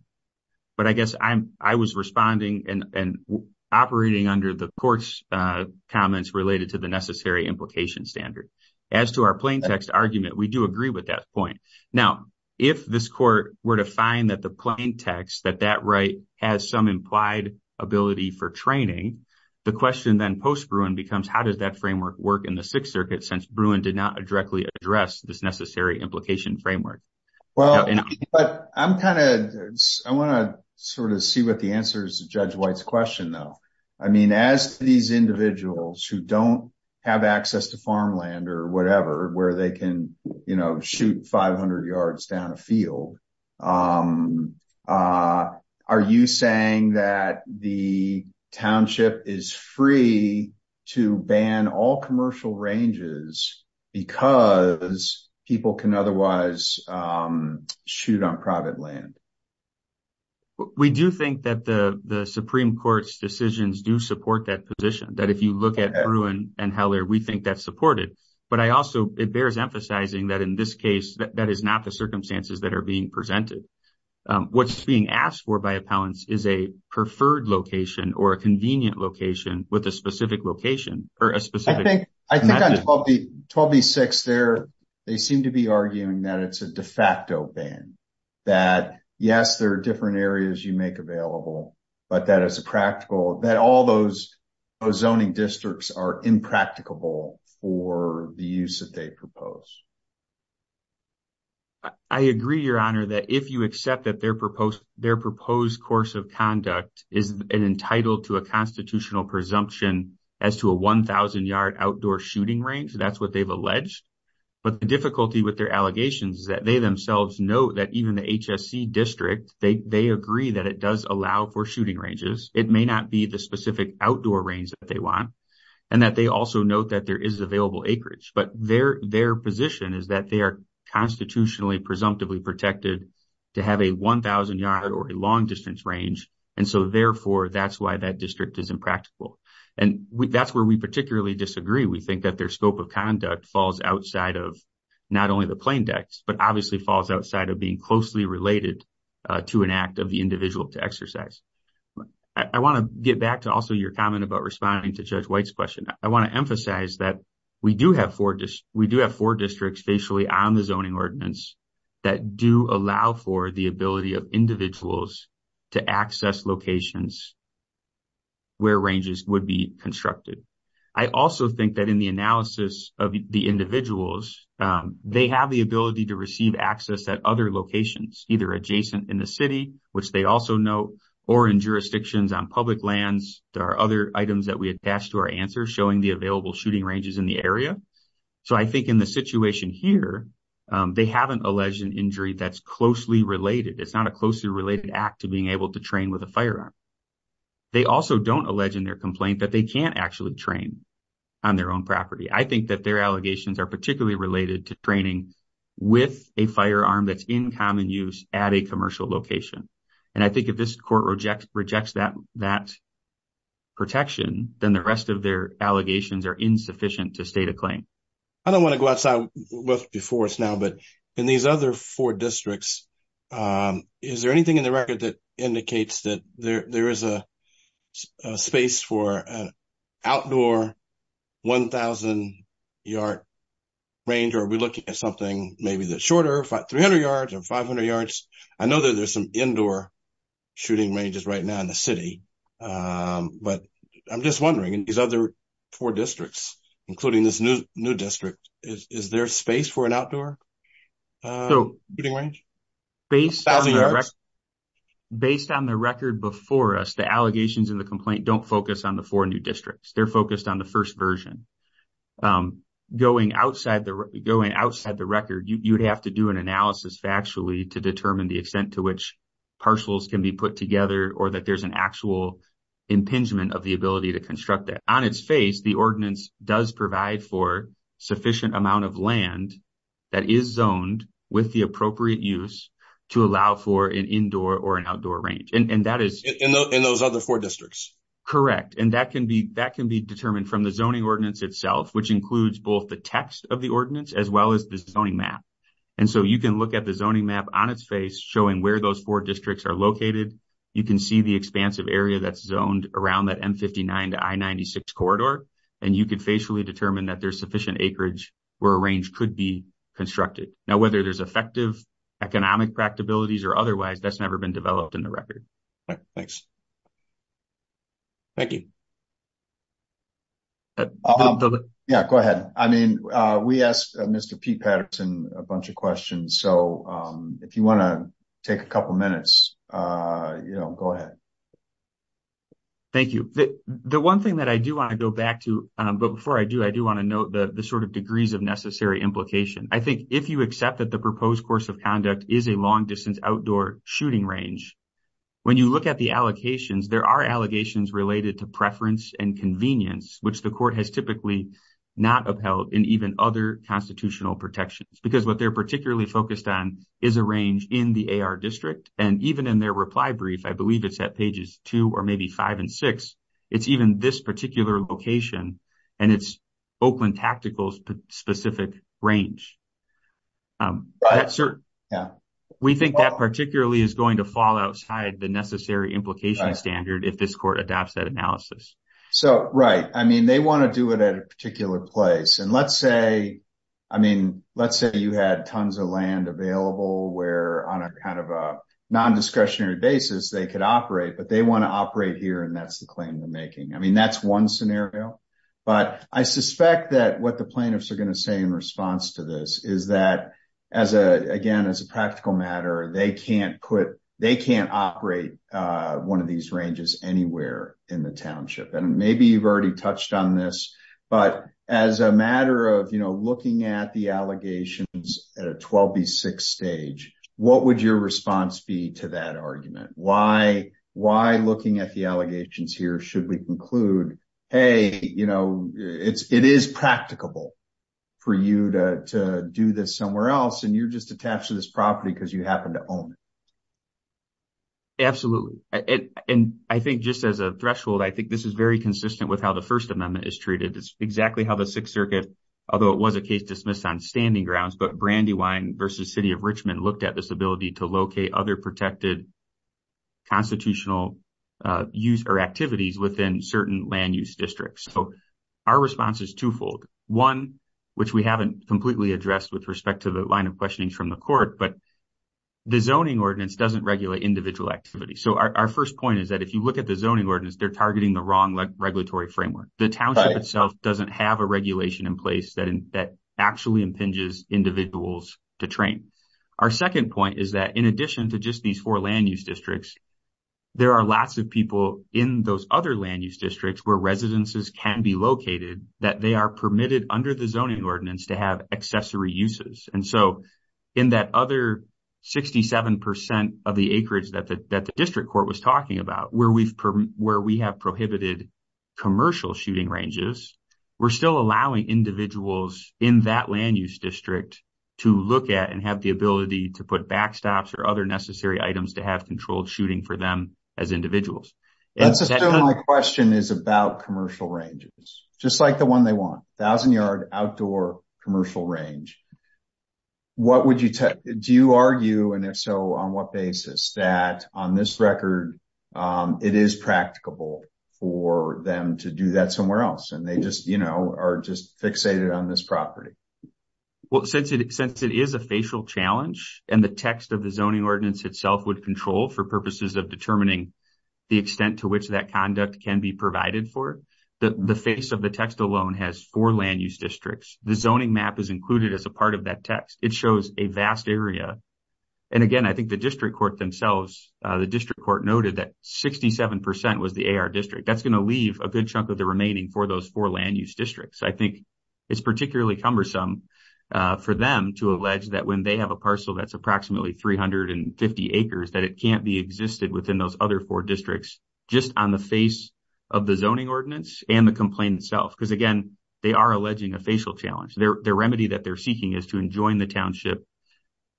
But I guess I was responding and operating under the court's comments related to the necessary implication standard. As to our plain text argument, we do agree with that point. Now, if this court were to find that the plain text, that that right has some implied ability for training, the question then post-Bruin becomes, how does that framework work in the Sixth Circuit, since Bruin did not directly address this necessary implication framework? Well, but I'm kind of, I want to sort of see what the answer is to Judge White's question, though. I mean, as these individuals who don't have access to farmland or whatever, where they can, you know, shoot 500 yards down a field, are you saying that the township is free to ban all commercial ranges because people can otherwise shoot on private land? We do think that the Supreme Court's decisions do support that position, that if you look at Bruin and Heller, we think that's supported. But I also, it bears emphasizing that in this case, that is not the circumstances that are being presented. What's being asked for by appellants is a preferred location or a convenient location with a specific location. I think on 12B6, they seem to be arguing that it's a de facto ban, that, yes, there are different areas you make available, but that as a practical, that all those zoning districts are impracticable for the use that they propose. I agree, Your Honor, that if you accept that their proposed course of conduct is entitled to a constitutional presumption as to a 1,000-yard outdoor shooting range, that's what they've alleged. But the difficulty with their allegations is that they themselves note that even the HSC district, they agree that it does allow for shooting ranges. It may not be the specific outdoor range that they want, and that they also note that there is available acreage. But their position is that they are constitutionally presumptively protected to have a 1,000-yard or a long-distance range, and so, therefore, that's why that district is impractical. And that's where we particularly disagree. We think that their scope of conduct falls outside of not only the plaintext, but obviously falls outside of being closely related to an act of the individual to exercise. I want to get back to also your comment about responding to Judge White's question. I want to emphasize that we do have four districts facially on the ability of individuals to access locations where ranges would be constructed. I also think that in the analysis of the individuals, they have the ability to receive access at other locations, either adjacent in the city, which they also know, or in jurisdictions on public lands. There are other items that we attach to our answer showing the available shooting ranges in the area. So, I think in the situation here, they haven't alleged an injury that's closely related. It's not a closely related act to being able to train with a firearm. They also don't allege in their complaint that they can't actually train on their own property. I think that their allegations are particularly related to training with a firearm that's in common use at a commercial location. And I think if this court rejects that protection, then the rest of their allegations are insufficient to state a claim. I don't want to go outside before us now, but in these other four districts, is there anything in the record that indicates that there is a space for an outdoor 1,000-yard range? Are we looking at something maybe that's shorter, 300 yards or 500 yards? I know that there's some indoor shooting ranges right now in the city, but I'm just wondering, in these other four districts, including this new district, is there space for an outdoor shooting range? Based on the record before us, the allegations in the complaint don't focus on the four new districts. They're focused on the first version. Going outside the record, you'd have to do an analysis factually to determine the extent to which partials can be put together or that there's an actual impingement of the ability to construct that. On its face, the ordinance does provide for sufficient amount of land that is zoned with the appropriate use to allow for an indoor or an outdoor range. In those other four districts? Correct. And that can be determined from the zoning ordinance itself, which includes both the text of the ordinance as well as the map. You can look at the zoning map on its face showing where those four districts are located. You can see the expansive area that's zoned around that M-59 to I-96 corridor, and you can facially determine that there's sufficient acreage where a range could be constructed. Now, whether there's effective economic practicalities or otherwise, that's never been developed in the record. Thanks. Thank you. Go ahead. We asked Mr. Pete Patterson a bunch of questions, so if you want to take a couple minutes, go ahead. Thank you. The one thing that I do want to go back to, but before I do, I do want to note the sort of degrees of necessary implication. I think if you accept that the proposed course of conduct is a long-distance outdoor shooting range, when you look at the allocations, there are allegations related to preference and convenience, which the court has typically not upheld in even other constitutional protections. Because what they're particularly focused on is a range in the AR district, and even in their reply brief, I believe it's at pages two or maybe five and six, it's even this particular location, and it's Oakland Tactical's specific range. We think that particularly is going to fall outside the necessary implication standard if this court adopts that analysis. Right. They want to do it at a particular place. Let's say you had tons of land available where, on a kind of a non-discretionary basis, they could operate, but they want to operate here, and that's the claim they're making. That's one scenario, but I suspect that what the plaintiffs operate one of these ranges anywhere in the township. Maybe you've already touched on this, but as a matter of looking at the allegations at a 12B6 stage, what would your response be to that argument? Why, looking at the allegations here, should we conclude, hey, it is practicable for you to do this somewhere else, and you're just attached to this property because you happen to own it? Absolutely. And I think just as a threshold, I think this is very consistent with how the First Amendment is treated. It's exactly how the Sixth Circuit, although it was a case dismissed on standing grounds, but Brandywine versus City of Richmond looked at this ability to locate other protected constitutional use or activities within certain land use districts. So, our response is twofold. One, which we haven't completely addressed with respect to line of questionings from the court, but the zoning ordinance doesn't regulate individual activity. So, our first point is that if you look at the zoning ordinance, they're targeting the wrong regulatory framework. The township itself doesn't have a regulation in place that actually impinges individuals to train. Our second point is that in addition to just these four land use districts, there are lots of people in those other land use districts where residences can be located that they are permitted under the zoning ordinance to have accessory uses. And so, in that other 67% of the acreage that the district court was talking about, where we have prohibited commercial shooting ranges, we're still allowing individuals in that land use district to look at and have the ability to put backstops or other necessary items to have controlled shooting for as individuals. My question is about commercial ranges, just like the one they want, a thousand yard outdoor commercial range. Do you argue, and if so, on what basis, that on this record, it is practicable for them to do that somewhere else and they are just fixated on this property? Well, since it is a facial challenge and the text of the zoning ordinance itself would control for purposes of determining the extent to which that conduct can be provided for, the face of the text alone has four land use districts. The zoning map is included as a part of that text. It shows a vast area. And again, I think the district court themselves, the district court noted that 67% was the AR district. That's going to leave a good chunk of the remaining for those four land use districts. I think it's particularly cumbersome for them to allege that when they have a parcel that's approximately 350 acres, that it can't be existed within those other four districts, just on the face of the zoning ordinance and the complaint itself. Because again, they are alleging a facial challenge. Their remedy that they're seeking is to enjoin the township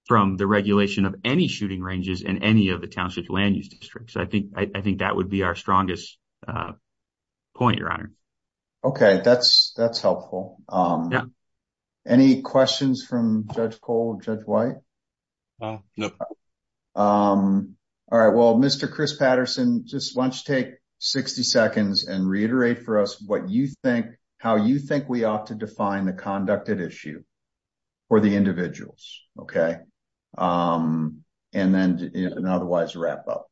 from the regulation of any shooting ranges in any of the township land use districts. I think that would be our strongest point, your honor. Okay. That's helpful. Any questions from Judge Cole and Judge White? No. All right. Well, Mr. Chris Patterson, just why don't you take 60 seconds and reiterate for us what you think, how you think we ought to define the conducted issue for the individuals. Okay. And then an otherwise wrap up.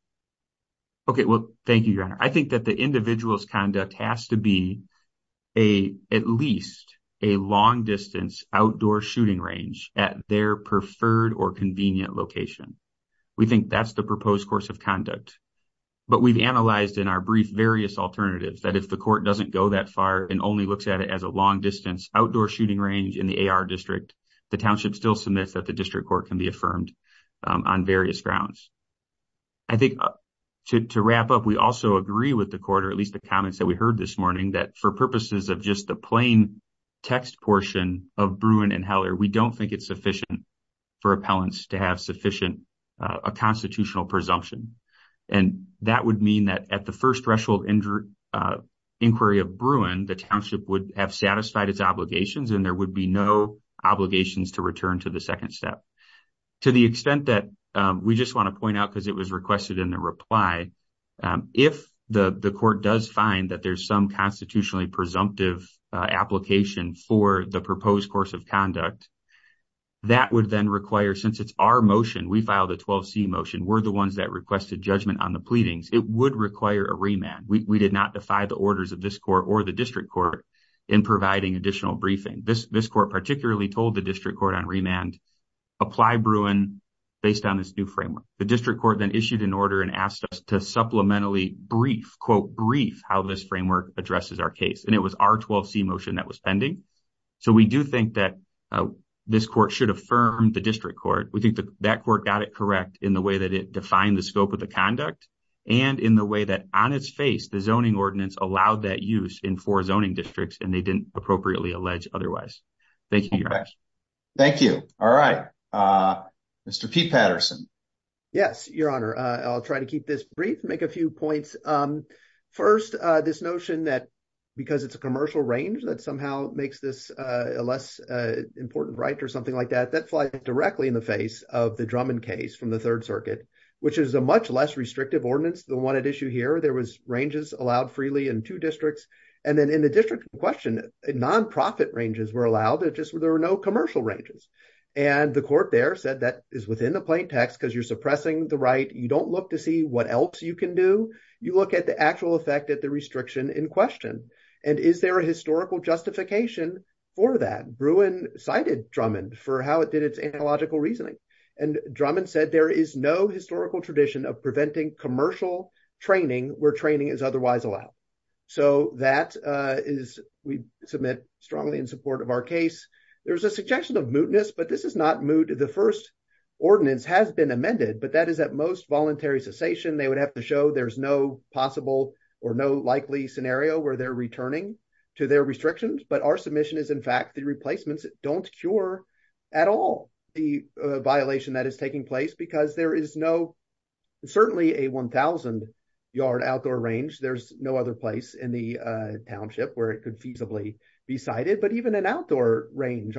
Okay. Well, thank you, your honor. I think that the individual's conduct has to be at least a long distance outdoor shooting range at their preferred or convenient location. We think that's the proposed course of conduct. But we've analyzed in our brief various alternatives that if the court doesn't go that far and only looks at it as a long distance outdoor shooting range in the AR district, the township still submits that the district court can be affirmed on various grounds. I think to wrap up, we also agree with the court, or at least the comments that we heard this morning, that for purposes of just the plain text portion of Bruin and Heller, we don't think it's sufficient for appellants to have sufficient constitutional presumption. And that would mean that at the first threshold inquiry of Bruin, the township would have satisfied its obligations and there would be no obligations to return to the second step. To the extent that we just want to presumptive application for the proposed course of conduct, that would then require, since it's our motion, we filed a 12C motion, we're the ones that requested judgment on the pleadings, it would require a remand. We did not defy the orders of this court or the district court in providing additional briefing. This court particularly told the district court on remand, apply Bruin based on this new framework. The district court then issued an order and asked to supplementally brief how this framework addresses our case. And it was our 12C motion that was pending. So we do think that this court should affirm the district court. We think that court got it correct in the way that it defined the scope of the conduct and in the way that on its face, the zoning ordinance allowed that use in four zoning districts and they didn't appropriately allege otherwise. Thank you. Thank you. All right. Mr. Pete Patterson. Yes, your honor. I'll try to keep this brief, make a few points. First, this notion that because it's a commercial range that somehow makes this a less important right or something like that, that flies directly in the face of the Drummond case from the third circuit, which is a much less restrictive ordinance than the one at issue here. There was ranges allowed freely in two districts. And then in the district in question, non-profit ranges were allowed. It the right. You don't look to see what else you can do. You look at the actual effect at the restriction in question. And is there a historical justification for that? Bruin cited Drummond for how it did its analogical reasoning. And Drummond said there is no historical tradition of preventing commercial training where training is otherwise allowed. So that is, we submit strongly in support of our case. There was a suggestion of mootness, but this is not moot. The first ordinance has been amended, but that is at most voluntary cessation. They would have to show there's no possible or no likely scenario where they're returning to their restrictions. But our submission is in fact, the replacements don't cure at all the violation that is taking place because there is no, certainly a 1000 yard outdoor range. There's no other place in the township where it feasibly be cited, but even an outdoor range,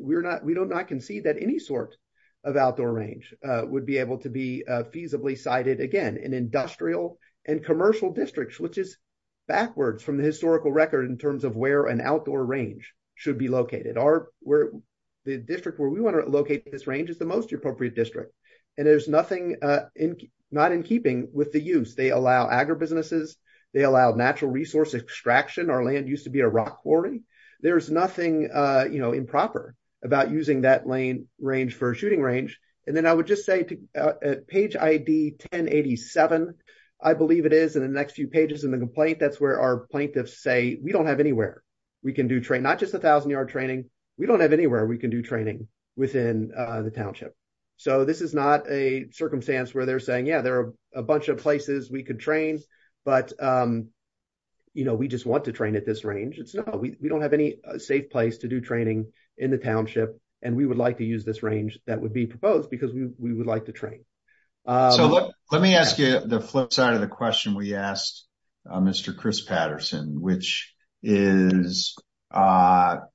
we do not concede that any sort of outdoor range would be able to be feasibly cited again in industrial and commercial districts, which is backwards from the historical record in terms of where an outdoor range should be located. The district where we want to locate this range is the most appropriate district. And there's nothing not in keeping with the use. They allow agribusinesses, they allow natural resource extraction. Our land used to be a rock quarry. There's nothing improper about using that lane range for a shooting range. And then I would just say to page ID 1087, I believe it is in the next few pages in the complaint. That's where our plaintiffs say, we don't have anywhere we can do train, not just a thousand yard training. We don't have anywhere we can do training within the township. So this is not a circumstance where they're saying, yeah, there are a bunch of places we could train, but we just want to train at this range. We don't have any safe place to do training in the township. And we would like to use this range that would be proposed because we would like to train. So let me ask you the flip side of the question we asked Mr. Chris Patterson, which is, are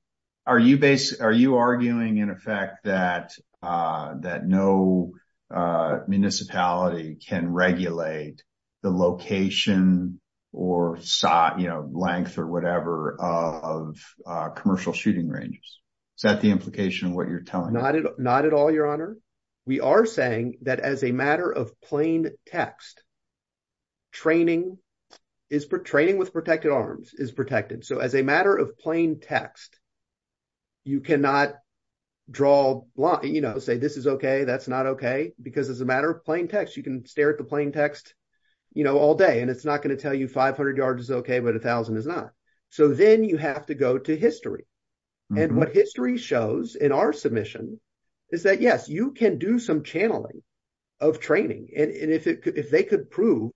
you arguing in effect that no a municipality can regulate the location or, you know, length or whatever of commercial shooting ranges? Is that the implication of what you're telling? Not at all, your honor. We are saying that as a matter of plain text, training with protected arms is protected. So as a matter of plain text, you cannot draw a line, you know, say this is okay, that's not okay. Because as a matter of plain text, you can stare at the plain text, you know, all day and it's not going to tell you 500 yards is okay, but a thousand is not. So then you have to go to history. And what history shows in our submission is that yes, you can do some channeling of training. And if they could prove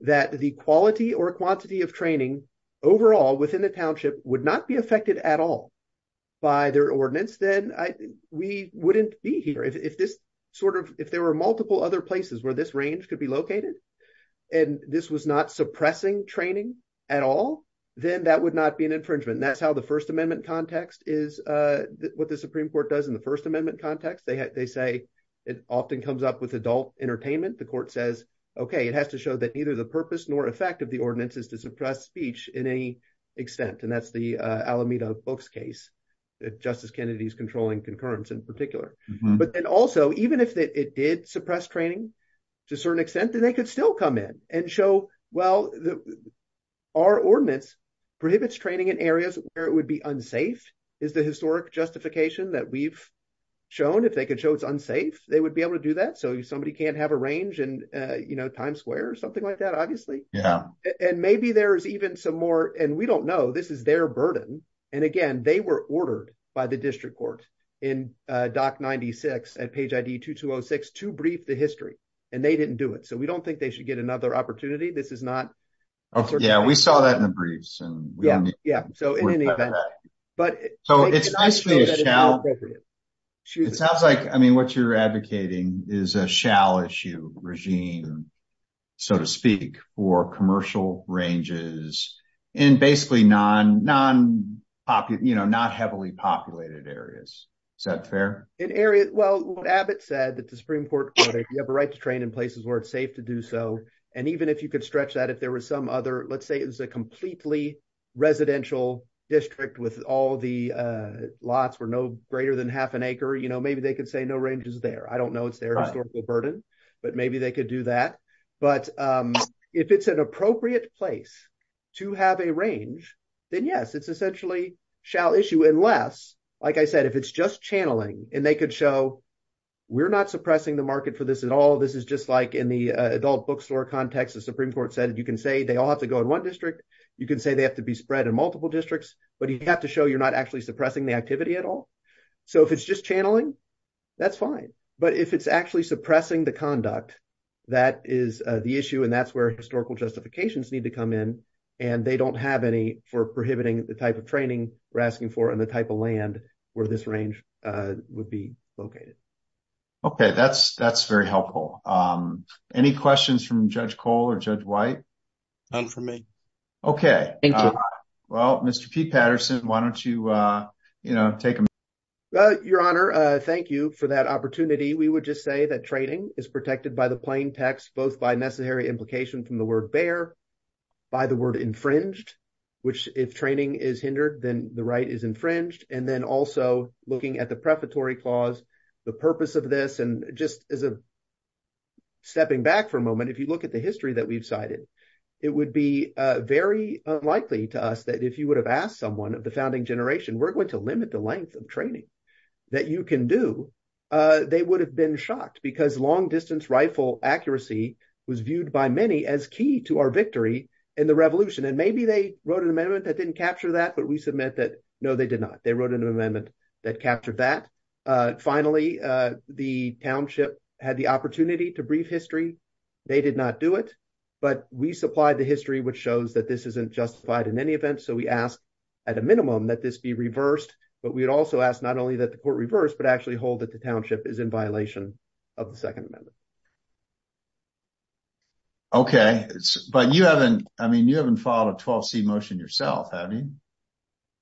that the quality or quantity of training overall within the township would not be affected at all by their ordinance, then we wouldn't be here. If this sort of, if there were multiple other places where this range could be located and this was not suppressing training at all, then that would not be an infringement. And that's how the first amendment context is, what the Supreme Court does in the first amendment context. They say it often comes up with adult entertainment. The court says, okay, it has to show that neither the purpose nor effect of the ordinance is to suppress speech in any extent. And that's the Alameda books case that Justice Kennedy's controlling concurrence in particular. But then also, even if it did suppress training to a certain extent, then they could still come in and show, well, our ordinance prohibits training in areas where it would be unsafe is the historic justification that we've shown. If they could show it's unsafe, they would be able to do that. So if somebody can't have a range and Times Square or something like that, obviously. And maybe there's even some more, and we don't know, this is their burden. And again, they were ordered by the district court in doc 96 at page ID 2206 to brief the history and they didn't do it. So we don't think they should get another opportunity. This is not. Yeah, we saw that in the briefs and yeah. So in any event, but so it's nice. It sounds like, I mean, what you're advocating is a shall issue regime, so to speak, for commercial ranges in basically non, non pop, you know, not heavily populated areas. Is that fair in areas? Well, Abbott said that the Supreme Court, you have a right to train in places where it's safe to do so. And even if you could stretch that, if there was some other, let's say, it was a completely residential district with all the lots were no greater than half an acre, you know, maybe they could say no ranges there. I don't know. It's their historical burden, but maybe they could do that. But if it's an appropriate place to have a range, then yes, it's essentially shall issue unless, like I said, if it's just channeling and they could show, we're not suppressing the market for this at all. This is just like in the adult bookstore context, the Supreme Court said, you can say they all have to go in one district. You can say they have to be spread in multiple districts, but you have to show you're not actually suppressing the activity at all. So if it's just channeling, that's fine. But if it's actually suppressing the conduct, that is the issue. And that's where historical justifications need to come in. And they don't have any for prohibiting the type of training we're asking for and the type of land where this range would be located. Okay, that's very helpful. Any questions from Judge Cole or Judge White? None for me. Okay. Thank you. Well, Mr. P. Patterson, why don't you, you know, take them? Your Honor, thank you for that opportunity. We would just say that training is protected by the plain text, both by necessary implication from the word bear, by the word infringed, which if training is hindered, then the right is infringed. And also looking at the prefatory clause, the purpose of this, and just as a stepping back for a moment, if you look at the history that we've cited, it would be very unlikely to us that if you would have asked someone of the founding generation, we're going to limit the length of training that you can do, they would have been shocked because long distance rifle accuracy was viewed by many as key to our victory in the revolution. And maybe they wrote an amendment that didn't that, but we submit that no, they did not. They wrote an amendment that captured that. Finally, the township had the opportunity to brief history. They did not do it, but we supplied the history, which shows that this isn't justified in any event. So we asked at a minimum that this be reversed, but we had also asked not only that the court reversed, but actually hold that the township is in violation of the second amendment. Okay, but you haven't, I mean, you haven't a 12C motion yourself, have you?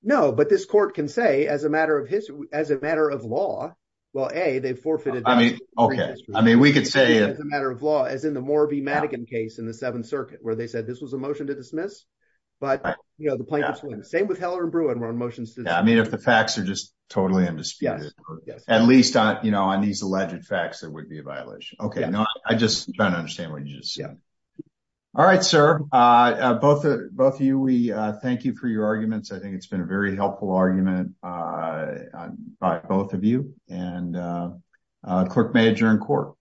No, but this court can say as a matter of history, as a matter of law, well, A, they've forfeited. Okay. I mean, we could say as a matter of law, as in the Moore v. Madigan case in the seventh circuit, where they said this was a motion to dismiss, but you know, the plaintiffs win. Same with Heller and Bruin were on motions. I mean, if the facts are just totally undisputed, at least on, you know, on these alleged facts, there would be a violation. Okay. No, I just don't understand what you just said. All right, sir. Both of you, we thank you for your arguments. I think it's been a very helpful argument by both of you and clerk may adjourn court.